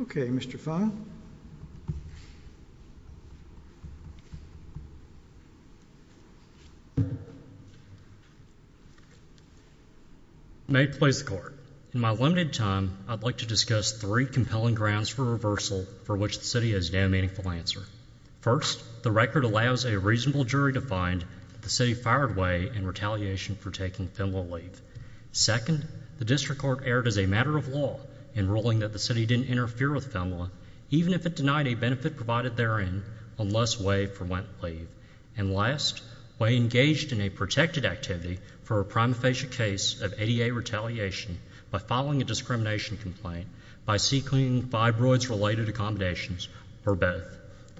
Ok, Mr. Fein. May it please the court, in my limited time, I'd like to discuss three compelling grounds for reversal for which the city has now made a meaningful answer. First, the record allows a reasonable jury to find that the city fired Way in retaliation for taking Finland Leave. Second, the district court erred as a matter of law in ruling that the city didn't interfere with Finland, even if it denied a benefit provided therein, unless Way went for leave. And last, Way engaged in a protected activity for a prima facie case of ADA retaliation by filing a discrimination complaint by seeking fibroids-related accommodations for both.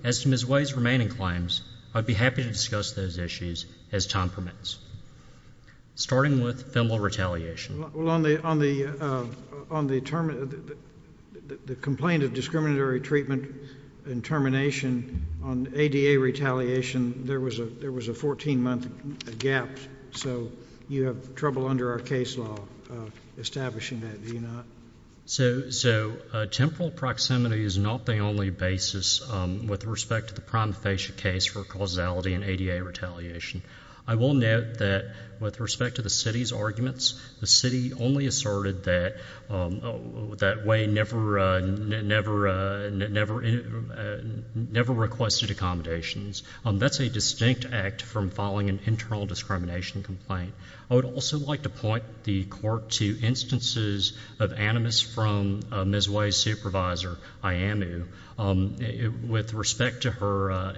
As to Ms. Way's remaining claims, I'd be happy to discuss those issues as time permits. Starting with female retaliation. Well, on the, on the, on the term, the complaint of discriminatory treatment and termination on ADA retaliation, there was a, there was a 14-month gap. So, you have trouble under our case law establishing that, do you not? So, so, temporal proximity is not the only basis with respect to the prima facie case for causality and ADA retaliation. I will note that with respect to the city's arguments, the city only asserted that, that Way never, never, never, never requested accommodations. That's a distinct act from filing an internal discrimination complaint. I would also like to point the court to instances of animus from Ms. Way's supervisor, Iyamu, with respect to her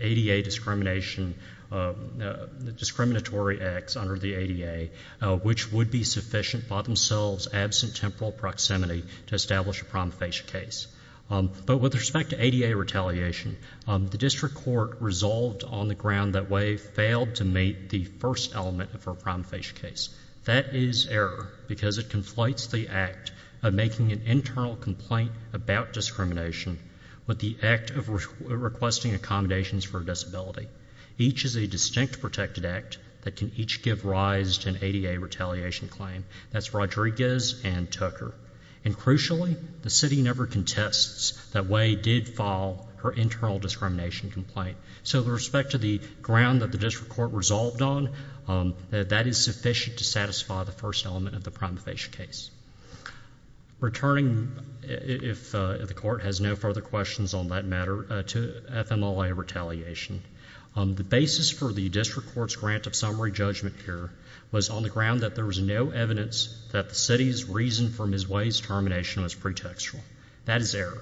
ADA discrimination, discriminatory acts under the ADA, which would be sufficient by themselves, absent temporal proximity, to establish a prima facie case. But with respect to ADA retaliation, the district court resolved on the ground that Way failed to meet the first element of her prima facie case. That is error, because it conflates the act of making an internal complaint about discrimination with the act of requesting accommodations for a disability. Each is a distinct protected act that can each give rise to an ADA retaliation claim. That's Rodriguez and Tucker. And crucially, the city never contests that Way did file her internal discrimination complaint. So with respect to the ground that the district court resolved on, that is sufficient to satisfy the first element of the prima facie case. Returning, if the court has no further questions on that matter, to FMLA retaliation. The basis for the district court's grant of summary judgment here was on the ground that there was no evidence that the city's reason for Ms. Way's termination was pretextual. That is error.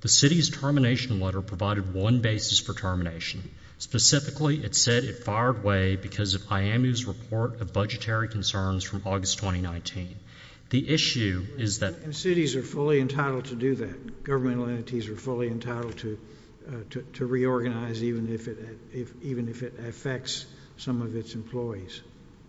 The city's termination letter provided one basis for termination. Specifically, it said it fired Way because of IAMU's report of budgetary concerns from August 2019. The issue is that cities are fully entitled to do that. Governmental entities are fully entitled to reorganize even if it affects some of its employees.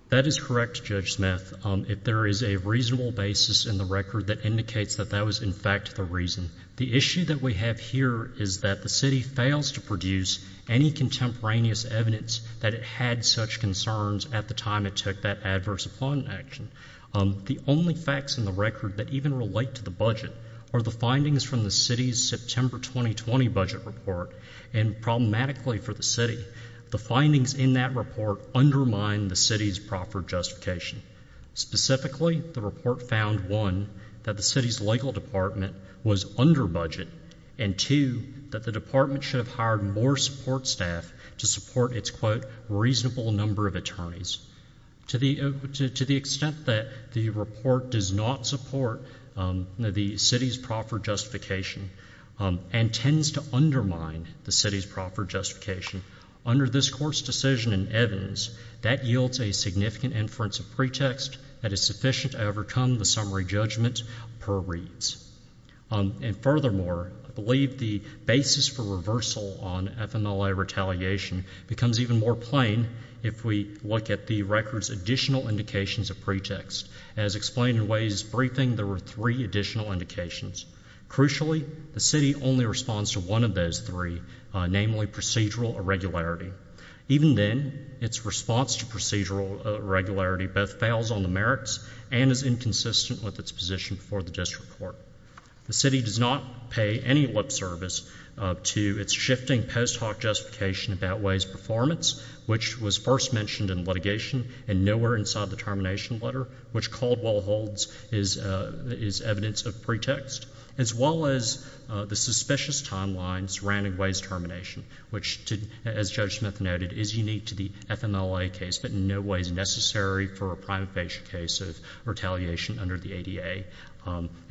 That is correct, Judge Smith. If there is a reasonable basis in the record that indicates that that was in fact the reason. The issue that we have here is that the city fails to produce any contemporaneous evidence that it had such concerns at the time it took that adverse employment action. The only facts in the record that even relate to the budget are the findings from the city's September 2020 budget report. And problematically for the city, the findings in that report undermine the city's proper justification. Specifically, the report found, one, that the city's legal department was under budget, and two, that the department should have hired more support staff to support its, quote, reasonable number of attorneys. To the extent that the report does not support the city's proper justification and tends to undermine the city's proper justification, under this Court's decision in Evans, that yields a significant inference of pretext that is sufficient to overcome the summary judgment per reads. And furthermore, I believe the basis for reversal on FMLA retaliation becomes even more plain if we look at the record's additional indications of pretext. As explained in Ways' briefing, there were three additional indications. Crucially, the city only responds to one of those three, namely procedural irregularity. Even then, its response to procedural irregularity both fails on the merits and is inconsistent with its position before the district court. The city does not pay any lip service to its shifting post hoc justification about Ways' performance, which was first mentioned in litigation and nowhere inside the termination letter, which Caldwell holds is evidence of pretext, as well as the suspicious timeline surrounding Ways' termination, which, as Judge Smith noted, is unique to the FMLA case, but in no way is necessary for a prima facie case of retaliation under the ADA.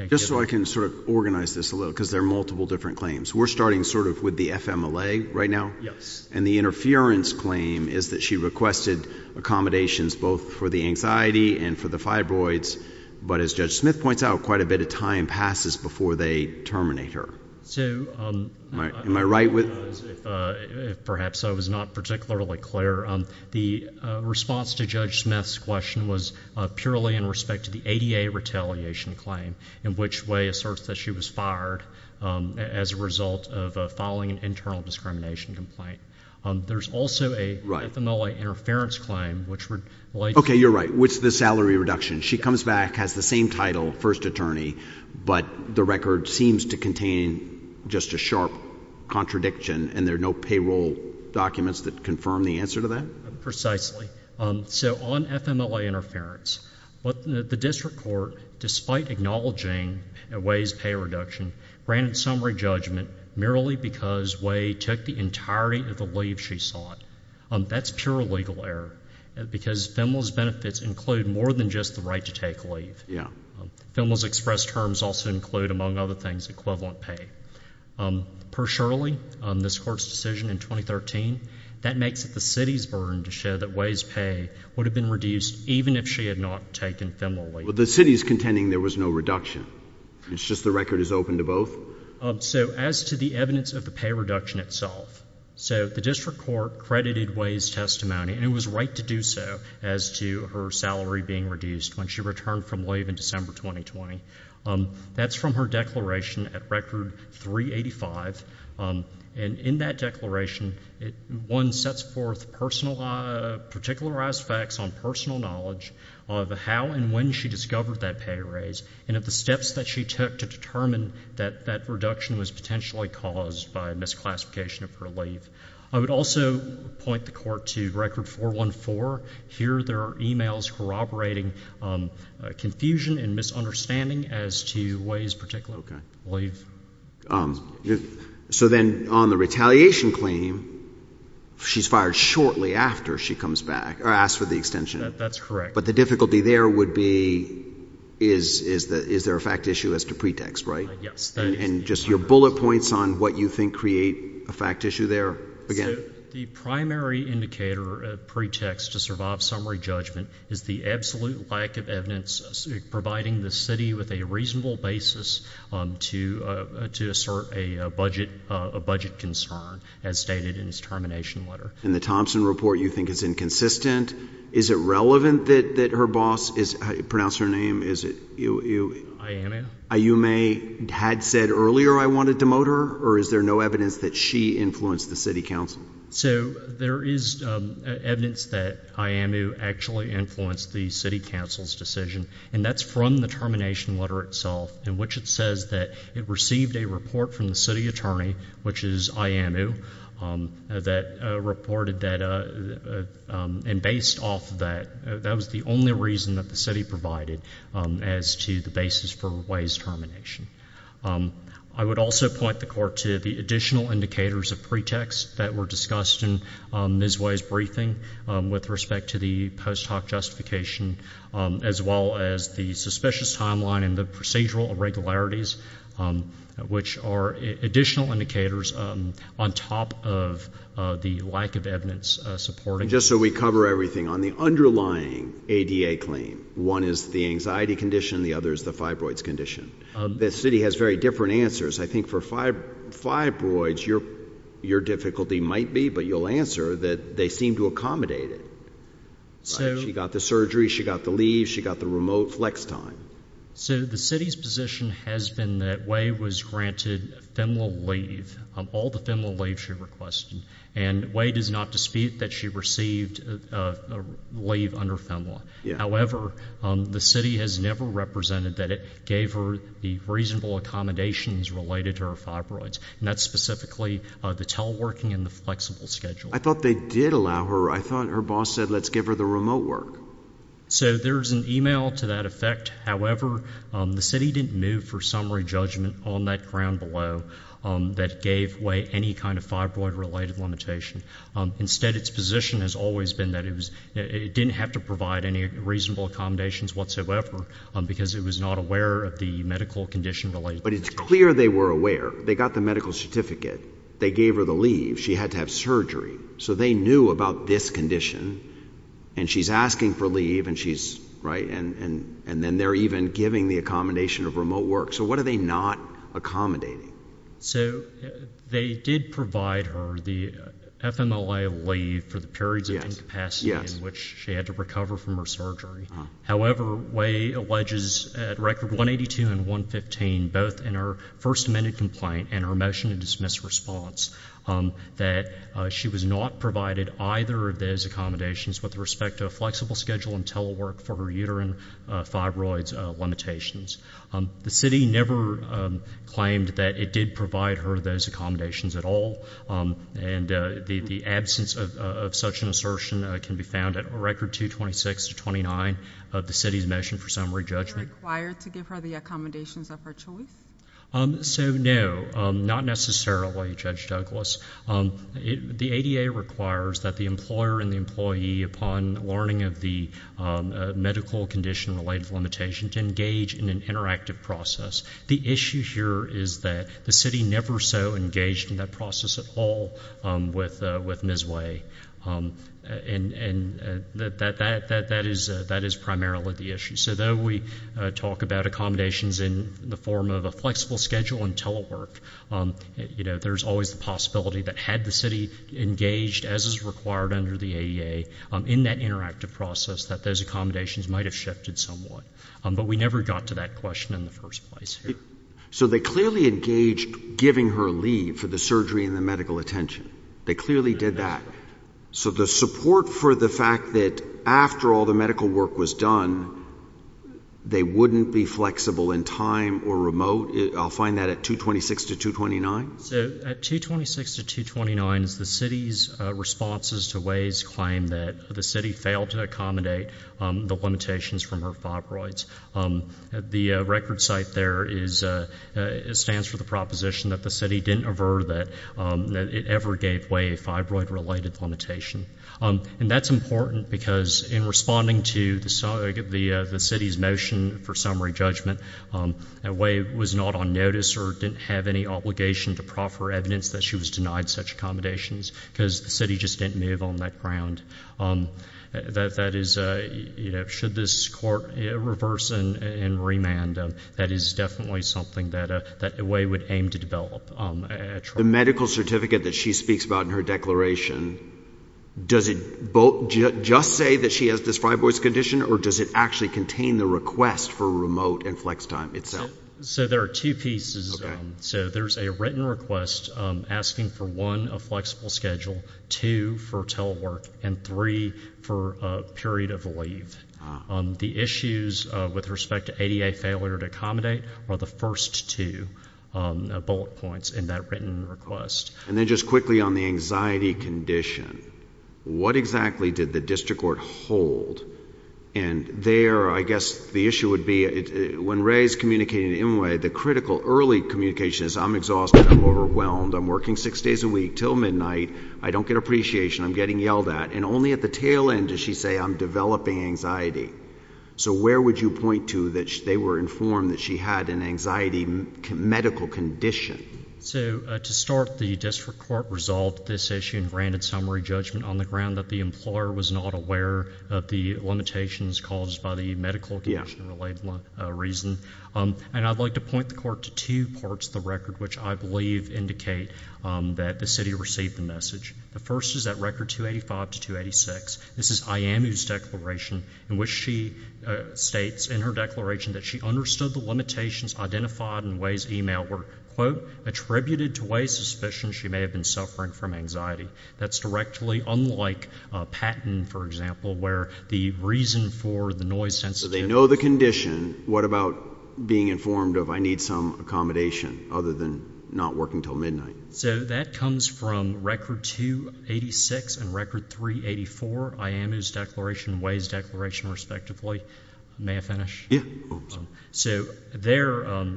Just so I can sort of organize this a little, because there are multiple different claims. We're starting sort of with the FMLA right now. Yes. And the interference claim is that she requested accommodations both for the anxiety and for the fibroids, but as Judge Smith points out, quite a bit of time passes before they terminate her. Am I right? Perhaps I was not particularly clear. The response to Judge Smith's question was purely in respect to the ADA retaliation claim, in which Ways asserts that she was fired as a result of filing an internal discrimination complaint. There's also a FMLA interference claim, which relates to- Okay, you're right, which is the salary reduction. She comes back, has the same title, first attorney, but the record seems to contain just a sharp contradiction, and there are no payroll documents that confirm the answer to that? Precisely. So on FMLA interference, the district court, despite acknowledging Way's pay reduction, granted summary judgment merely because Way took the entirety of the leave she sought. That's pure legal error, because FEMLA's benefits include more than just the right to take leave. FEMLA's express terms also include, among other things, equivalent pay. Per Shirley, this Court's decision in 2013, that makes it the city's burden to show that Way's pay would have been reduced even if she had not taken FEMLA leave. But the city is contending there was no reduction. It's just the record is open to both? So as to the evidence of the pay reduction itself, so the district court credited Way's testimony, and it was right to do so, as to her salary being reduced when she returned from leave in December 2020. That's from her declaration at Record 385, and in that declaration, one sets forth particularized facts on personal knowledge of how and when she discovered that pay raise and of the steps that she took to determine that that reduction was potentially caused by misclassification of her leave. I would also point the Court to Record 414. Here there are e-mails corroborating confusion and misunderstanding as to Way's particular leave. So then on the retaliation claim, she's fired shortly after she comes back, or asks for the extension. That's correct. But the difficulty there would be, is there a fact issue as to pretext, right? Yes. And just your bullet points on what you think create a fact issue there, again. The primary indicator of pretext to survive summary judgment is the absolute lack of evidence providing the city with a reasonable basis to assert a budget concern, as stated in its termination letter. In the Thompson report, you think it's inconsistent. Is it relevant that her boss—pronounce her name— Ayanna. You may have said earlier, I want to demote her, or is there no evidence that she influenced the city council? So there is evidence that Ayanna actually influenced the city council's decision, and that's from the termination letter itself, in which it says that it received a report from the city attorney, which is Ayanna, that reported that, and based off of that, that was the only reason that the city provided as to the basis for Way's termination. I would also point the Court to the additional indicators of pretext that were discussed in Ms. Way's briefing with respect to the post hoc justification, as well as the suspicious timeline and the procedural irregularities, which are additional indicators on top of the lack of evidence supporting— Just so we cover everything, on the underlying ADA claim, one is the anxiety condition, the other is the fibroids condition. The city has very different answers. I think for fibroids, your difficulty might be, but you'll answer, that they seem to accommodate it. She got the surgery. She got the leave. She got the remote flex time. So the city's position has been that Way was granted a femoral leave, all the femoral leave she requested, and Way does not dispute that she received a leave under femoral. However, the city has never represented that it gave her the reasonable accommodations related to her fibroids, and that's specifically the teleworking and the flexible schedule. I thought they did allow her. I thought her boss said, let's give her the remote work. So there's an email to that effect. However, the city didn't move for summary judgment on that ground below that gave Way any kind of fibroid-related limitation. Instead, its position has always been that it didn't have to provide any reasonable accommodations whatsoever because it was not aware of the medical condition related to it. But it's clear they were aware. They got the medical certificate. They gave her the leave. She had to have surgery. So they knew about this condition, and she's asking for leave, and she's, right, and then they're even giving the accommodation of remote work. So what are they not accommodating? So they did provide her the FMLA leave for the periods of incapacity in which she had to recover from her surgery. However, Way alleges at record 182 and 115, both in her first amendment complaint and her motion to dismiss response, that she was not provided either of those accommodations with respect to a flexible schedule in telework for her uterine fibroids limitations. The city never claimed that it did provide her those accommodations at all, and the absence of such an assertion can be found at record 226 to 29 of the city's motion for summary judgment. Were they required to give her the accommodations of her choice? So, no, not necessarily, Judge Douglas. The ADA requires that the employer and the employee, upon learning of the medical condition-related limitation, to engage in an interactive process. The issue here is that the city never so engaged in that process at all with Ms. Way, and that is primarily the issue. So though we talk about accommodations in the form of a flexible schedule in telework, there's always the possibility that had the city engaged, as is required under the ADA, in that interactive process, that those accommodations might have shifted somewhat. But we never got to that question in the first place here. So they clearly engaged giving her leave for the surgery and the medical attention. They clearly did that. So the support for the fact that after all the medical work was done, they wouldn't be flexible in time or remote, I'll find that at 226 to 229? So at 226 to 229 is the city's responses to Way's claim that the city failed to accommodate the limitations from her fibroids. The record site there stands for the proposition that the city didn't aver that it ever gave Way a fibroid-related limitation. And that's important because in responding to the city's motion for summary judgment, Way was not on notice or didn't have any obligation to proffer evidence that she was denied such accommodations because the city just didn't move on that ground. That is, you know, should this court reverse and remand, that is definitely something that Way would aim to develop. The medical certificate that she speaks about in her declaration, does it just say that she has this fibroid condition, or does it actually contain the request for remote and flex time itself? So there are two pieces. So there's a written request asking for, one, a flexible schedule, two, for telework, and three, for a period of leave. The issues with respect to ADA failure to accommodate are the first two bullet points in that written request. And then just quickly on the anxiety condition, what exactly did the district court hold? And there, I guess the issue would be, when Ray is communicating to Inouye, the critical early communication is, I'm exhausted, I'm overwhelmed, I'm working six days a week until midnight, I don't get appreciation, I'm getting yelled at. And only at the tail end does she say, I'm developing anxiety. So where would you point to that they were informed that she had an anxiety medical condition? So to start, the district court resolved this issue and granted summary judgment on the ground that the employer was not aware of the limitations caused by the medical condition-related reason. And I'd like to point the court to two parts of the record, which I believe indicate that the city received the message. The first is that record 285 to 286. This is Iyamu's declaration, in which she states in her declaration that she understood the limitations identified in Ray's email were, quote, attributed to Ray's suspicion she may have been suffering from anxiety. That's directly unlike Patton, for example, where the reason for the noise sensitivity- So they know the condition. What about being informed of I need some accommodation other than not working until midnight? So that comes from record 286 and record 384, Iyamu's declaration and Ray's declaration, respectively. May I finish? Yeah. So there,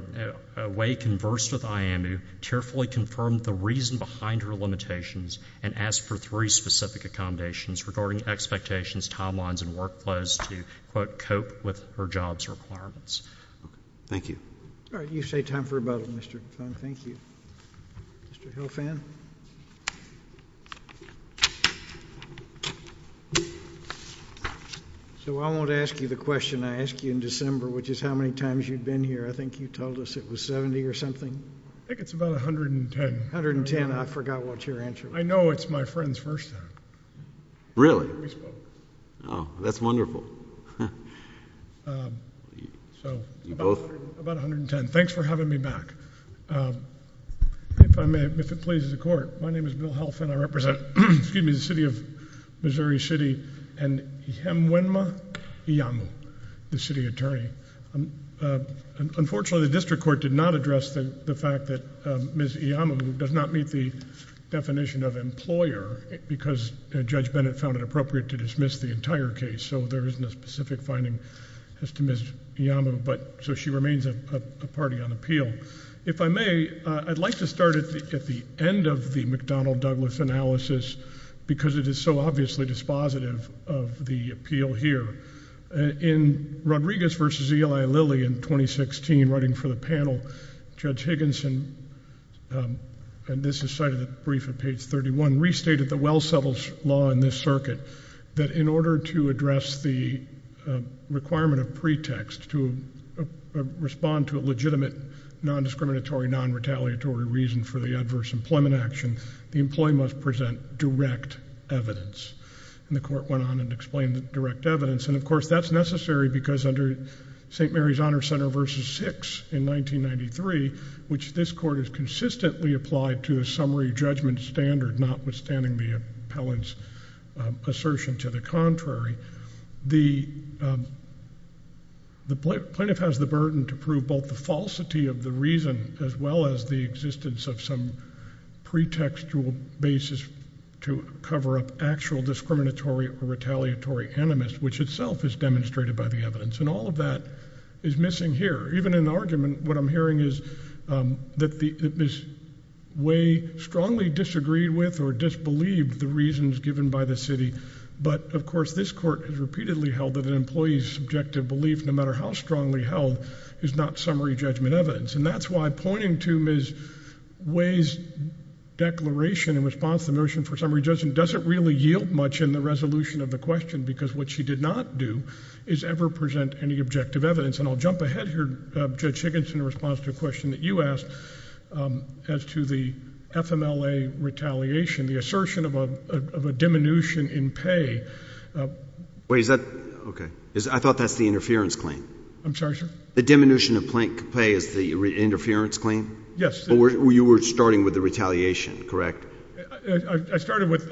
Ray conversed with Iyamu, tearfully confirmed the reason behind her limitations, and asked for three specific accommodations regarding expectations, timelines, and workflows to, quote, cope with her job's requirements. Thank you. All right. You've saved time for rebuttal, Mr. Kline. Thank you. Mr. Hilfan? So I won't ask you the question I asked you in December, which is how many times you've been here. I think you told us it was 70 or something. I think it's about 110. I forgot what your answer was. I know. It's my friend's first time. Really? We spoke. Oh, that's wonderful. So about 110. Thanks for having me back. If it pleases the court, my name is Bill Hilfan. I represent, excuse me, the city of Missouri City and Ihemwenma Iyamu, the city attorney. Unfortunately, the district court did not address the fact that Ms. Iyamu does not meet the definition of employer because Judge Bennett found it appropriate to dismiss the entire case, so there isn't a specific finding as to Ms. Iyamu, so she remains a party on appeal. If I may, I'd like to start at the end of the McDonnell-Douglas analysis because it is so obviously dispositive of the appeal here. In Rodriguez v. Eli Lilly in 2016, writing for the panel, Judge Higginson, and this is cited in the brief at page 31, restated the well settled law in this circuit that in order to address the requirement of pretext to respond to a legitimate, non-discriminatory, non-retaliatory reason for the adverse employment action, the employee must present direct evidence. And the court went on and explained the direct evidence, and of course that's necessary because under St. Mary's Honor Center v. 6 in 1993, which this court has consistently applied to a summary judgment standard, notwithstanding the appellant's assertion to the contrary, the plaintiff has the burden to prove both the falsity of the reason as well as the existence of some pretextual basis to cover up actual discriminatory or retaliatory animus, which itself is demonstrated by the evidence, and all of that is missing here. Even in the argument, what I'm hearing is that Ms. Way strongly disagreed with or disbelieved the reasons given by the city, but of course this court has repeatedly held that an employee's subjective belief, no matter how strongly held, is not summary judgment evidence. And that's why pointing to Ms. Way's declaration in response to the motion for summary judgment doesn't really yield much in the resolution of the question because what she did not do is ever present any objective evidence. And I'll jump ahead here, Judge Higginson, in response to a question that you asked as to the FMLA retaliation, the assertion of a diminution in pay. Wait, is that? Okay. I thought that's the interference claim. I'm sorry, sir? The diminution of pay is the interference claim? Yes. You were starting with the retaliation, correct? I started with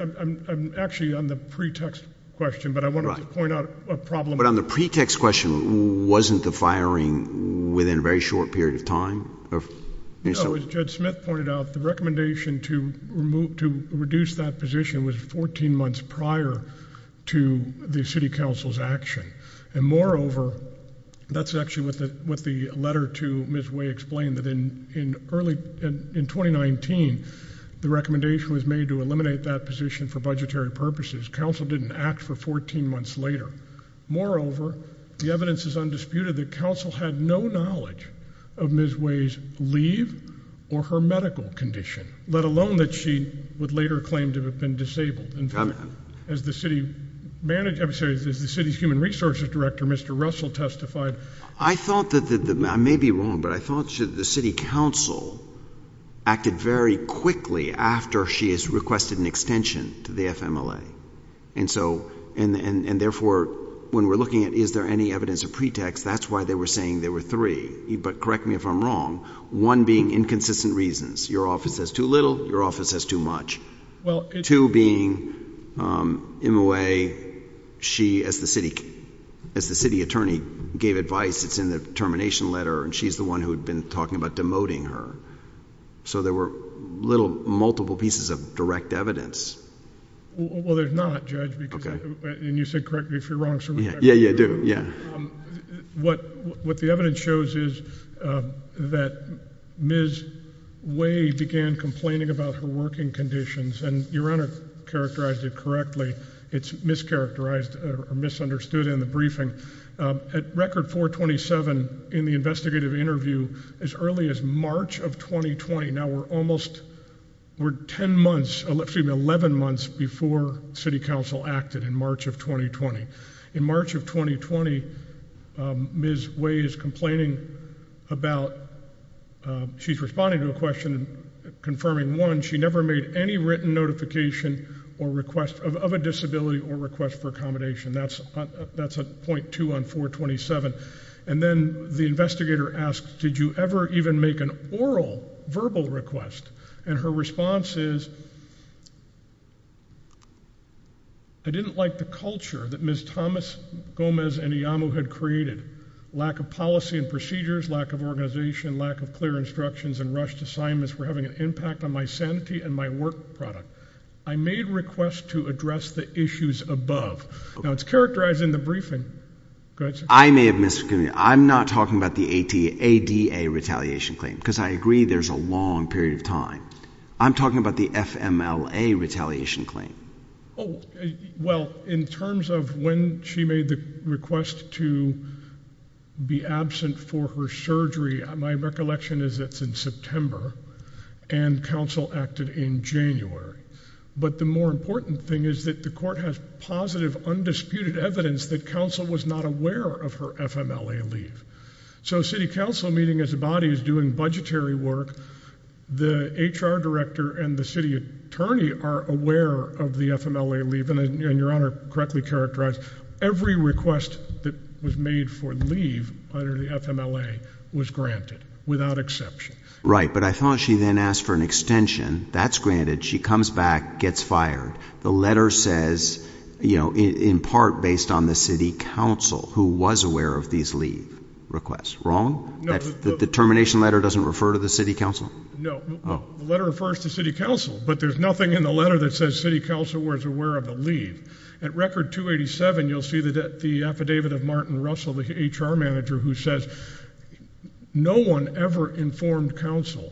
actually on the pretext question, but I wanted to point out a problem. But on the pretext question, wasn't the firing within a very short period of time? No, as Judge Smith pointed out, the recommendation to reduce that position was 14 months prior to the city council's action. And moreover, that's actually what the letter to Ms. Way explained, that in 2019 the recommendation was made to eliminate that position for budgetary purposes. Council didn't act for 14 months later. Moreover, the evidence is undisputed that council had no knowledge of Ms. Way's leave or her medical condition, let alone that she would later claim to have been disabled. In fact, as the city's human resources director, Mr. Russell, testified. I may be wrong, but I thought the city council acted very quickly after she has requested an extension to the FMLA. And therefore, when we're looking at is there any evidence of pretext, that's why they were saying there were three. But correct me if I'm wrong. One being inconsistent reasons. Your office has too little, your office has too much. Two being Ms. Way, she, as the city attorney gave advice, it's in the termination letter, and she's the one who had been talking about demoting her. So there were little multiple pieces of direct evidence. Well, there's not, Judge, and you said correctly if you're wrong. Yeah, yeah, I do, yeah. What the evidence shows is that Ms. Way began complaining about her working conditions, and your Honor characterized it correctly. It's mischaracterized or misunderstood in the briefing. At record 427 in the investigative interview, as early as March of 2020, now we're almost 10 months, excuse me, 11 months before city council acted in March of 2020. In March of 2020, Ms. Way is complaining about, she's responding to a question confirming one, she never made any written notification of a disability or request for accommodation. That's at .2 on 427. And then the investigator asks, did you ever even make an oral, verbal request? And her response is, I didn't like the culture that Ms. Thomas, Gomez, and Iyamu had created. Lack of policy and procedures, lack of organization, lack of clear instructions and rushed assignments were having an impact on my sanity and my work product. I made requests to address the issues above. Now it's characterized in the briefing. Go ahead, sir. I may have miscommunicated. I'm not talking about the ADA retaliation claim because I agree there's a long period of time. I'm talking about the FMLA retaliation claim. Oh, well, in terms of when she made the request to be absent for her surgery, my recollection is it's in September and council acted in January. But the more important thing is that the court has positive, undisputed evidence that council was not aware of her FMLA leave. So city council meeting as a body is doing budgetary work. The HR director and the city attorney are aware of the FMLA leave, and your Honor correctly characterized every request that was made for leave under the FMLA was granted without exception. Right, but I thought she then asked for an extension. That's granted. She comes back, gets fired. The letter says, you know, in part based on the city council who was aware of these leave requests. The termination letter doesn't refer to the city council? No. The letter refers to city council, but there's nothing in the letter that says city council was aware of the leave. At record 287, you'll see the affidavit of Martin Russell, the HR manager, who says no one ever informed council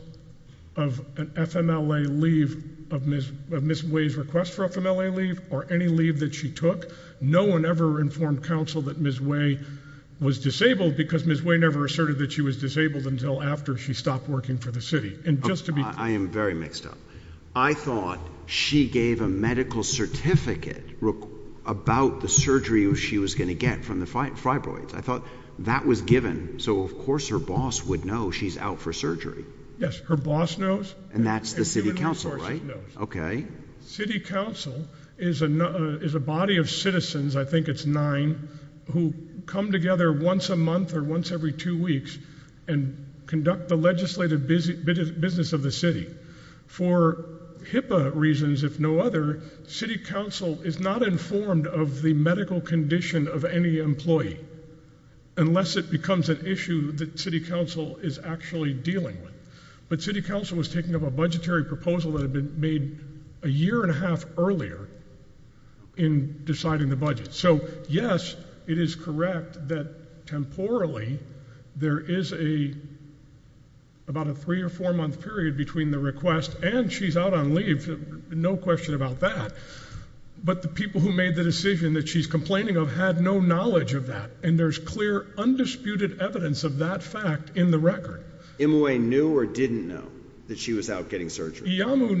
of an FMLA leave, of Ms. Way's request for FMLA leave or any leave that she took. No one ever informed council that Ms. Way was disabled because Ms. Way never asserted that she was disabled until after she stopped working for the city. I am very mixed up. I thought she gave a medical certificate about the surgery she was going to get from the fibroids. I thought that was given, so of course her boss would know she's out for surgery. Yes, her boss knows. And that's the city council, right? City council is a body of citizens, I think it's nine, who come together once a month or once every two weeks and conduct the legislative business of the city. For HIPAA reasons, if no other, city council is not informed of the medical condition of any employee unless it becomes an issue that city council is actually dealing with. But city council was taking up a budgetary proposal that had been made a year and a half earlier in deciding the budget. So, yes, it is correct that, temporally, there is about a three- or four-month period between the request and she's out on leave. No question about that. But the people who made the decision that she's complaining of had no knowledge of that. And there's clear, undisputed evidence of that fact in the record. M.O.A. knew or didn't know that she was out getting surgery? Iyamu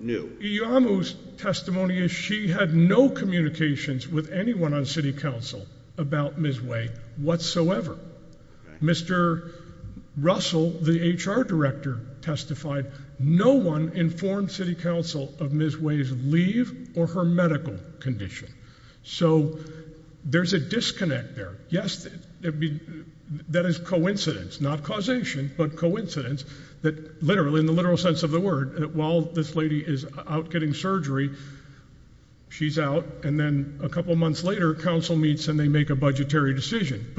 knew. Iyamu's testimony is she had no communications with anyone on city council about Ms. Way whatsoever. Mr. Russell, the HR director, testified, no one informed city council of Ms. Way's leave or her medical condition. So there's a disconnect there. Yes, that is coincidence, not causation, but coincidence, that literally, in the literal sense of the word, while this lady is out getting surgery, she's out, and then a couple months later, council meets and they make a budgetary decision.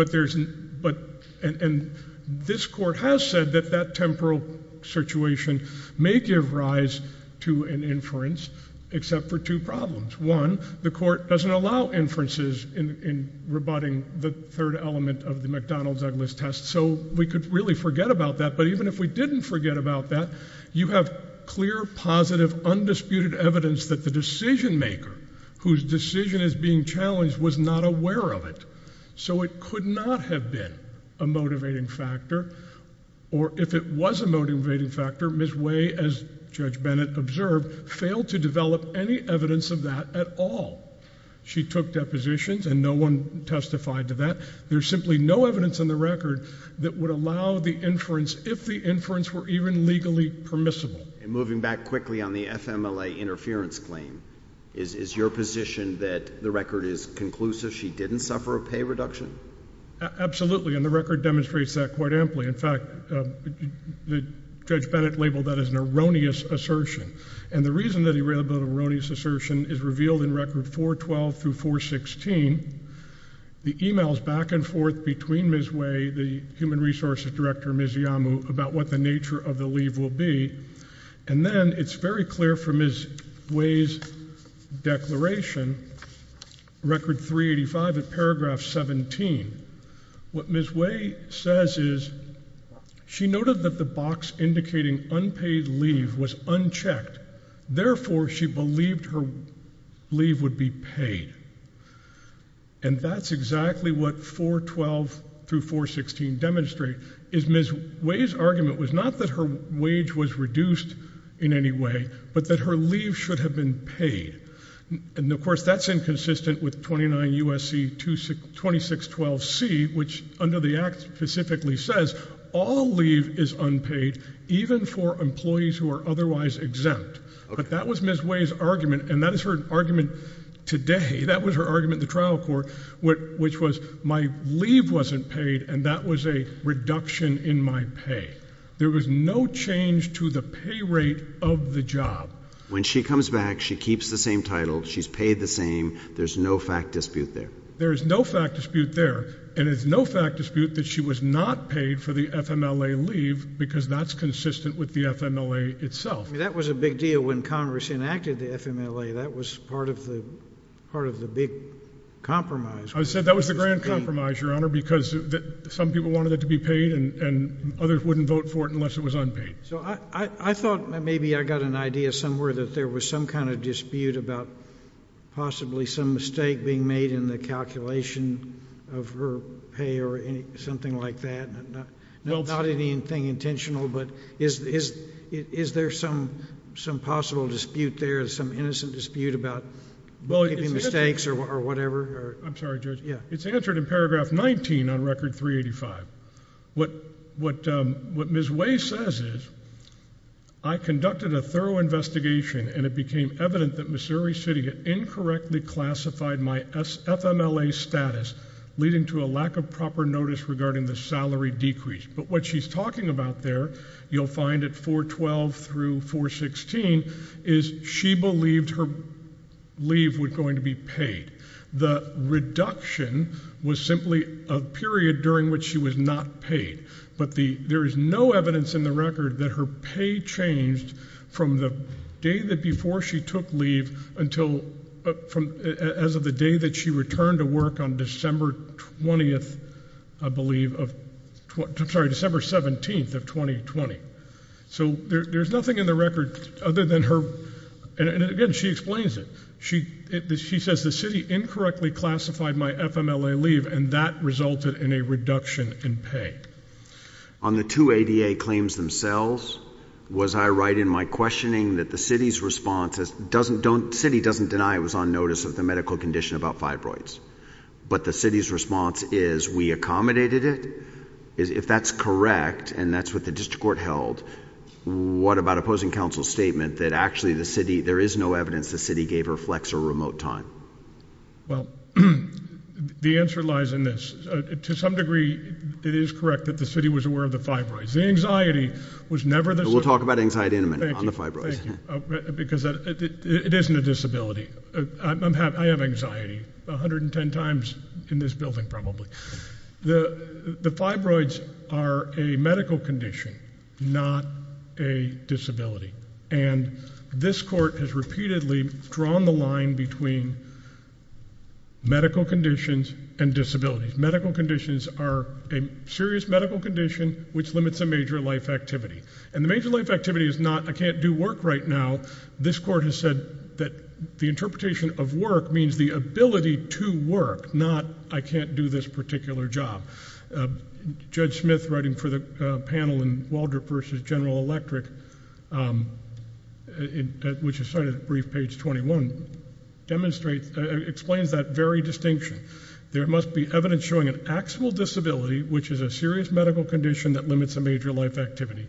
And this court has said that that temporal situation may give rise to an inference, except for two problems. One, the court doesn't allow inferences in rebutting the third element of the McDonald's-Eglis test, so we could really forget about that. But even if we didn't forget about that, you have clear, positive, undisputed evidence that the decision-maker, whose decision is being challenged, was not aware of it. So it could not have been a motivating factor, or if it was a motivating factor, Ms. Way, as Judge Bennett observed, failed to develop any evidence of that at all. She took depositions and no one testified to that. There's simply no evidence in the record that would allow the inference, if the inference were even legally permissible. And moving back quickly on the FMLA interference claim, is your position that the record is conclusive? She didn't suffer a pay reduction? Absolutely, and the record demonstrates that quite amply. In fact, Judge Bennett labeled that as an erroneous assertion. And the reason that he labeled it an erroneous assertion is revealed in Record 412 through 416. The e-mails back and forth between Ms. Way, the human resources director, Ms. Iyamu, about what the nature of the leave will be, and then it's very clear from Ms. Way's declaration, Record 385 at paragraph 17. What Ms. Way says is she noted that the box indicating unpaid leave was unchecked. Therefore, she believed her leave would be paid. And that's exactly what 412 through 416 demonstrate, is Ms. Way's argument was not that her wage was reduced in any way, but that her leave should have been paid. And, of course, that's inconsistent with 29 U.S.C. 2612C, which under the Act specifically says all leave is unpaid, even for employees who are otherwise exempt. But that was Ms. Way's argument, and that is her argument today. That was her argument in the trial court, which was my leave wasn't paid, and that was a reduction in my pay. There was no change to the pay rate of the job. When she comes back, she keeps the same title. She's paid the same. There's no fact dispute there. There is no fact dispute there, and there's no fact dispute that she was not paid for the FMLA leave because that's consistent with the FMLA itself. That was a big deal when Congress enacted the FMLA. That was part of the big compromise. I said that was the grand compromise, Your Honor, because some people wanted it to be paid and others wouldn't vote for it unless it was unpaid. So I thought maybe I got an idea somewhere that there was some kind of dispute about possibly some mistake being made in the calculation of her pay or something like that. Not anything intentional, but is there some possible dispute there, some innocent dispute about making mistakes or whatever? I'm sorry, Judge. It's answered in Paragraph 19 on Record 385. What Ms. Way says is, I conducted a thorough investigation and it became evident that Missouri City had incorrectly classified my FMLA status, leading to a lack of proper notice regarding the salary decrease. But what she's talking about there, you'll find at 412 through 416, is she believed her leave was going to be paid. The reduction was simply a period during which she was not paid. But there is no evidence in the record that her pay changed from the day that before she took leave until as of the day that she returned to work on December 20th, I believe, I'm sorry, December 17th of 2020. So there's nothing in the record other than her, and again, she explains it. She says the city incorrectly classified my FMLA leave, and that resulted in a reduction in pay. On the two ADA claims themselves, was I right in my questioning that the city's response, the city doesn't deny it was on notice of the medical condition about fibroids, but the city's response is we accommodated it? If that's correct, and that's what the district court held, what about opposing counsel's statement that actually the city, there is no evidence the city gave her flex or remote time? Well, the answer lies in this. To some degree, it is correct that the city was aware of the fibroids. The anxiety was never the city. We'll talk about anxiety in a minute on the fibroids. Because it isn't a disability. I have anxiety 110 times in this building probably. The fibroids are a medical condition, not a disability. And this court has repeatedly drawn the line between medical conditions and disabilities. Medical conditions are a serious medical condition which limits a major life activity. And the major life activity is not I can't do work right now. This court has said that the interpretation of work means the ability to work, not I can't do this particular job. Judge Smith, writing for the panel in Waldrop v. General Electric, which is cited at brief page 21, explains that very distinction. There must be evidence showing an actual disability, which is a serious medical condition that limits a major life activity.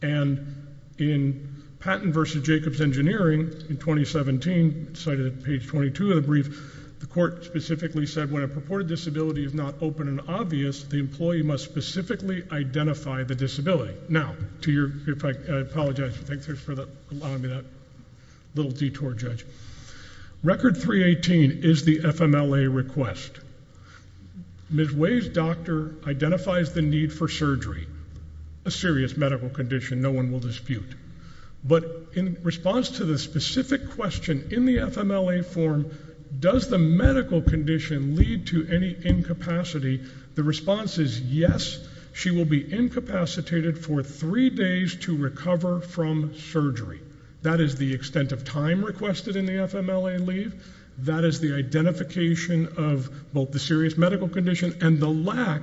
And in Patton v. Jacobs Engineering in 2017, cited at page 22 of the brief, the court specifically said when a purported disability is not open and obvious, the employee must specifically identify the disability. Now, to your effect, I apologize. Thanks for allowing me that little detour, Judge. Record 318 is the FMLA request. Ms. Way's doctor identifies the need for surgery, a serious medical condition no one will dispute. But in response to the specific question in the FMLA form, does the medical condition lead to any incapacity, the response is yes. She will be incapacitated for three days to recover from surgery. That is the extent of time requested in the FMLA leave. That is the identification of both the serious medical condition and the lack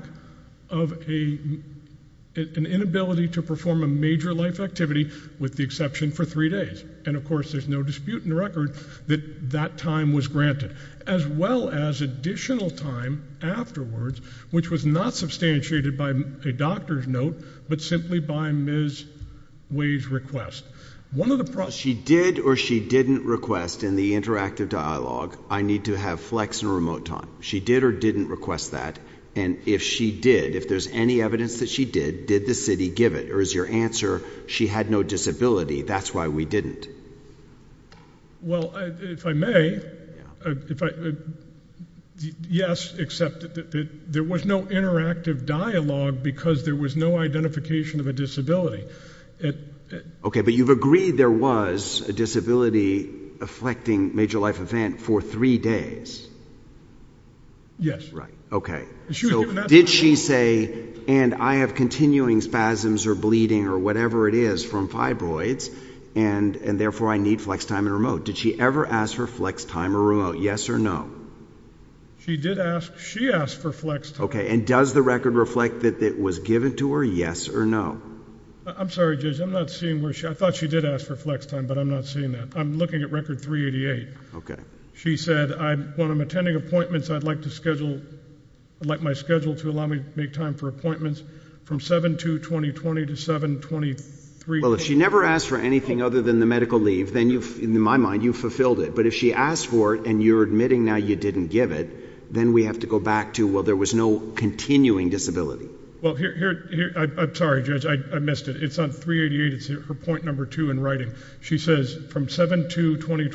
of an inability to perform a major life activity, with the exception for three days. And, of course, there's no dispute in the record that that time was granted, as well as additional time afterwards, which was not substantiated by a doctor's note, but simply by Ms. Way's request. She did or she didn't request in the interactive dialogue, I need to have flex and remote time. She did or didn't request that. And if she did, if there's any evidence that she did, did the city give it? Or is your answer, she had no disability, that's why we didn't? Well, if I may, yes, except that there was no interactive dialogue because there was no identification of a disability. Okay, but you've agreed there was a disability-afflicting major life event for three days. Yes. Right, okay. Did she say, and I have continuing spasms or bleeding or whatever it is from fibroids, and therefore I need flex time and remote, did she ever ask for flex time or remote, yes or no? She did ask. She asked for flex time. Okay, and does the record reflect that it was given to her, yes or no? I'm sorry, Judge, I'm not seeing where she, I thought she did ask for flex time, but I'm not seeing that. I'm looking at record 388. Okay. She said, when I'm attending appointments, I'd like my schedule to allow me to make time for appointments from 7-2-2020 to 7-23-2020. Well, if she never asked for anything other than the medical leave, then you've, in my mind, you've fulfilled it. But if she asked for it and you're admitting now you didn't give it, then we have to go back to, well, there was no continuing disability. Well, here, I'm sorry, Judge, I missed it. It's on 388, it's her point number two in writing. She says, from 7-2-2020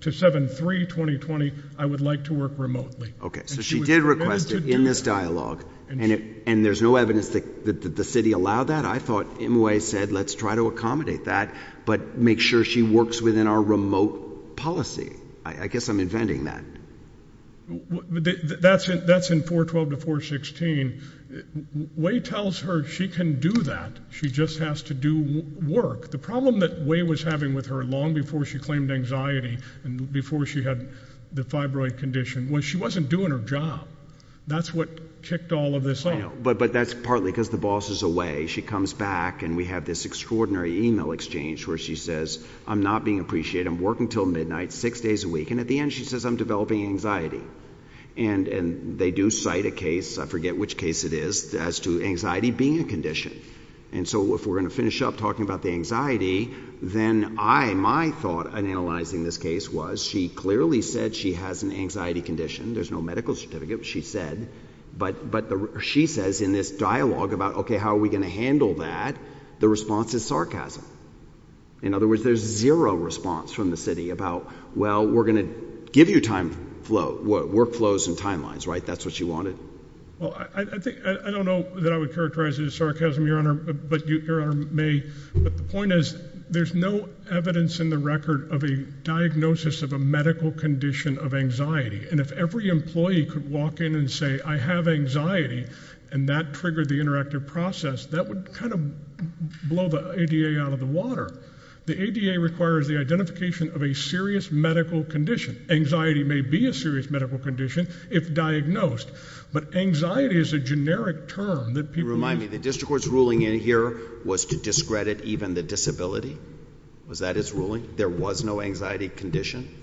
to 7-3-2020, I would like to work remotely. Okay, so she did request it in this dialogue, and there's no evidence that the city allowed that? I thought M. Way said, let's try to accommodate that, but make sure she works within our remote policy. I guess I'm inventing that. That's in 412 to 416. Way tells her she can do that, she just has to do work. The problem that Way was having with her long before she claimed anxiety and before she had the fibroid condition was she wasn't doing her job. That's what kicked all of this off. But that's partly because the boss is away. She comes back, and we have this extraordinary email exchange where she says, I'm not being appreciated. I'm working until midnight, six days a week. And at the end she says, I'm developing anxiety. And they do cite a case, I forget which case it is, as to anxiety being a condition. And so if we're going to finish up talking about the anxiety, then my thought in analyzing this case was she clearly said she has an anxiety condition. There's no medical certificate, but she said. But she says in this dialogue about, okay, how are we going to handle that, the response is sarcasm. In other words, there's zero response from the city about, well, we're going to give you workflows and timelines, right? That's what you wanted? I don't know that I would characterize it as sarcasm, Your Honor, but Your Honor may. But the point is there's no evidence in the record of a diagnosis of a medical condition of anxiety. And if every employee could walk in and say, I have anxiety, and that triggered the interactive process, that would kind of blow the ADA out of the water. The ADA requires the identification of a serious medical condition. Anxiety may be a serious medical condition if diagnosed, but anxiety is a generic term that people use. Remind me, the district court's ruling in here was to discredit even the disability? Was that its ruling? There was no anxiety condition?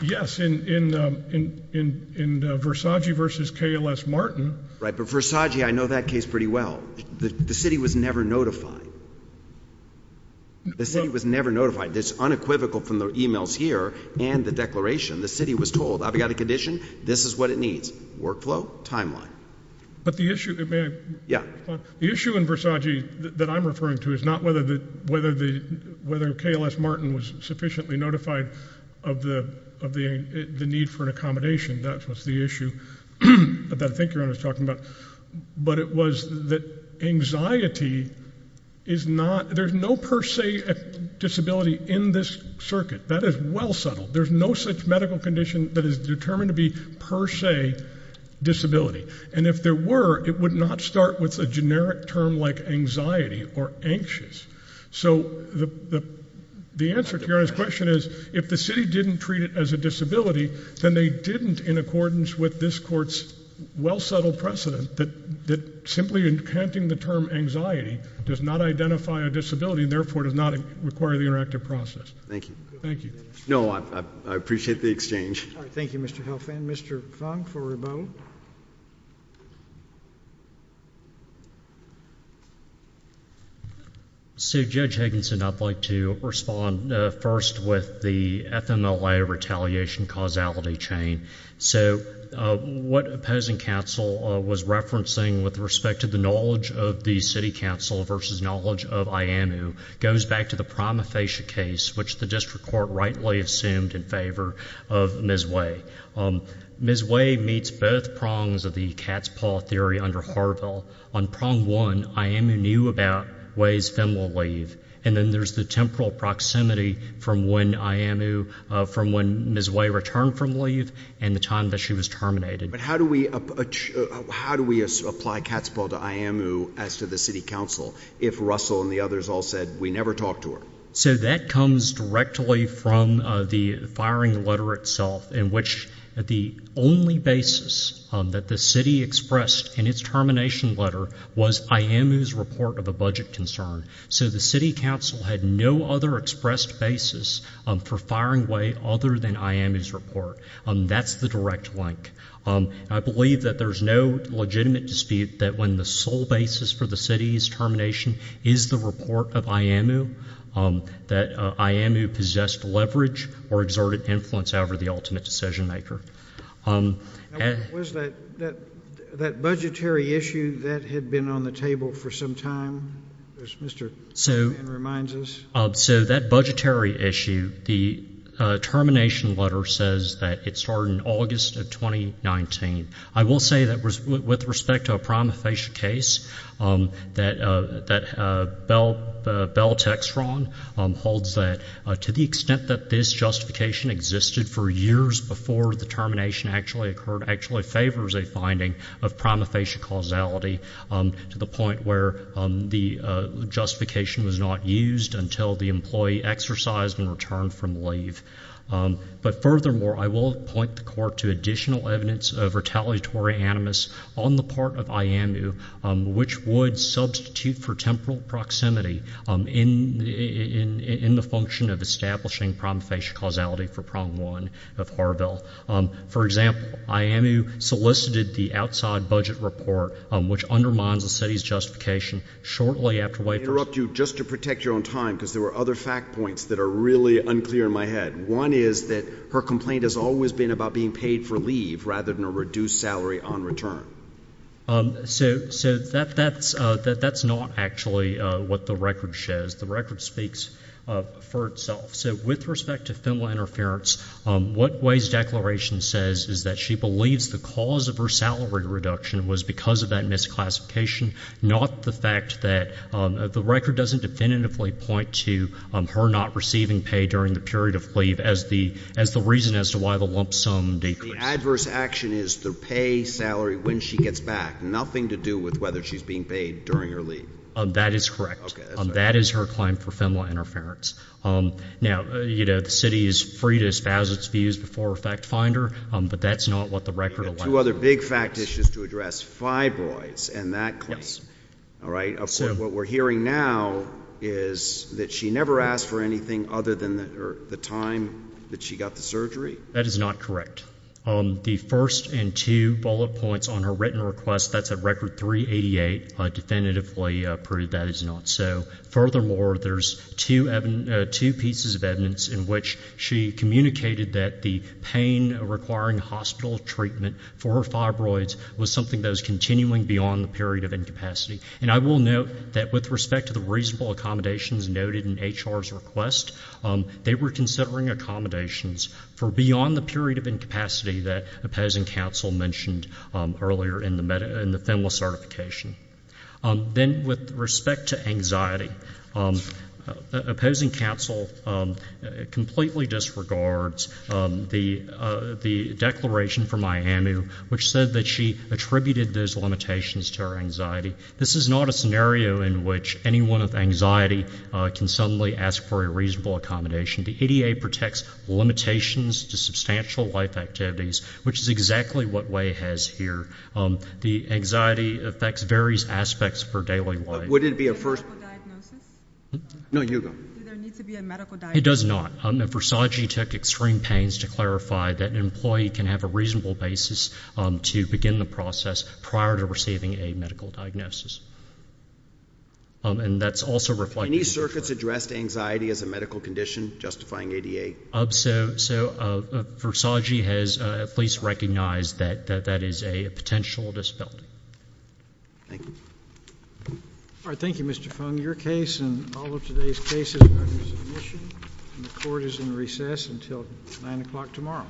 Yes, in Versace v. KLS Martin. Right, but Versace, I know that case pretty well. The city was never notified. The city was never notified. It's unequivocal from the e-mails here and the declaration. The city was told, I've got a condition, this is what it needs, workflow, timeline. But the issue in Versace that I'm referring to is not whether KLS Martin was sufficiently notified of the need for an accommodation. That was the issue that that thinker was talking about. But it was that anxiety is not, there's no per se disability in this circuit. That is well settled. There's no such medical condition that is determined to be per se disability. And if there were, it would not start with a generic term like anxiety or anxious. So the answer to your question is if the city didn't treat it as a disability, then they didn't in accordance with this court's well settled precedent that simply in counting the term anxiety does not identify a disability and therefore does not require the interactive process. Thank you. Thank you. No, I appreciate the exchange. Thank you, Mr. Helfand. Mr. Fung for rebuttal. So Judge Higginson, I'd like to respond first with the FMLA retaliation causality chain. So what opposing counsel was referencing with respect to the knowledge of the city counsel versus knowledge of IAMU goes back to the prima facie case, which the district court rightly assumed in favor of Ms. Way. Ms. Way meets both prongs of the Katzpah theory under Harville. On prong one, IAMU knew about Way's FMLA leave, and then there's the temporal proximity from when Ms. Way returned from leave and the time that she was terminated. But how do we apply Katzpah to IAMU as to the city counsel if Russell and the others all said we never talked to her? So that comes directly from the firing letter itself, in which the only basis that the city expressed in its termination letter was IAMU's report of a budget concern. So the city counsel had no other expressed basis for firing Way other than IAMU's report. That's the direct link. I believe that there's no legitimate dispute that when the sole basis for the city's termination is the report of IAMU, that IAMU possessed leverage or exerted influence over the ultimate decision maker. Was that budgetary issue that had been on the table for some time, as Mr. McMahon reminds us? So that budgetary issue, the termination letter says that it started in August of 2019. I will say that with respect to a prima facie case, that Bell-Texron holds that, to the extent that this justification existed for years before the termination actually occurred, actually favors a finding of prima facie causality to the point where the justification was not used until the employee exercised and returned from leave. But furthermore, I will point the court to additional evidence of retaliatory animus on the part of IAMU, which would substitute for temporal proximity in the function of establishing prima facie causality for prong one of Harville. For example, IAMU solicited the outside budget report, which undermines the city's justification, shortly after Way first— One is that her complaint has always been about being paid for leave rather than a reduced salary on return. So that's not actually what the record says. The record speaks for itself. So with respect to female interference, what Way's declaration says is that she believes the cause of her salary reduction was because of that misclassification, not the fact that the record doesn't definitively point to her not receiving pay during the period of leave as the reason as to why the lump sum decreased. The adverse action is the pay salary when she gets back, nothing to do with whether she's being paid during her leave. That is correct. Okay. That's right. That is her claim for female interference. Now, you know, the city is free to espouse its views before a fact finder, but that's not what the record allows. Two other big fact issues to address, fibroids and that claim. All right. What we're hearing now is that she never asked for anything other than the time that she got the surgery? That is not correct. The first and two bullet points on her written request, that's at Record 388, definitively proved that is not so. Furthermore, there's two pieces of evidence in which she communicated that the pain requiring hospital treatment for fibroids was something that was continuing beyond the period of incapacity. And I will note that with respect to the reasonable accommodations noted in HR's request, they were considering accommodations for beyond the period of incapacity that opposing counsel mentioned earlier in the FEMLA certification. Then with respect to anxiety, opposing counsel completely disregards the declaration from Miami, which said that she attributed those limitations to her anxiety. This is not a scenario in which anyone with anxiety can suddenly ask for a reasonable accommodation. The ADA protects limitations to substantial life activities, which is exactly what Way has here. The anxiety affects various aspects of her daily life. Would it be a first? Medical diagnosis? No, you go. Does there need to be a medical diagnosis? It does not. Versagie took extreme pains to clarify that an employee can have a reasonable basis to begin the process prior to receiving a medical diagnosis. And that's also reflected. Have any circuits addressed anxiety as a medical condition, justifying ADA? So Versagie has at least recognized that that is a potential disability. Thank you. All right. Thank you, Mr. Fung. Your case and all of today's cases are under submission, and the Court is in recess until 9 o'clock tomorrow.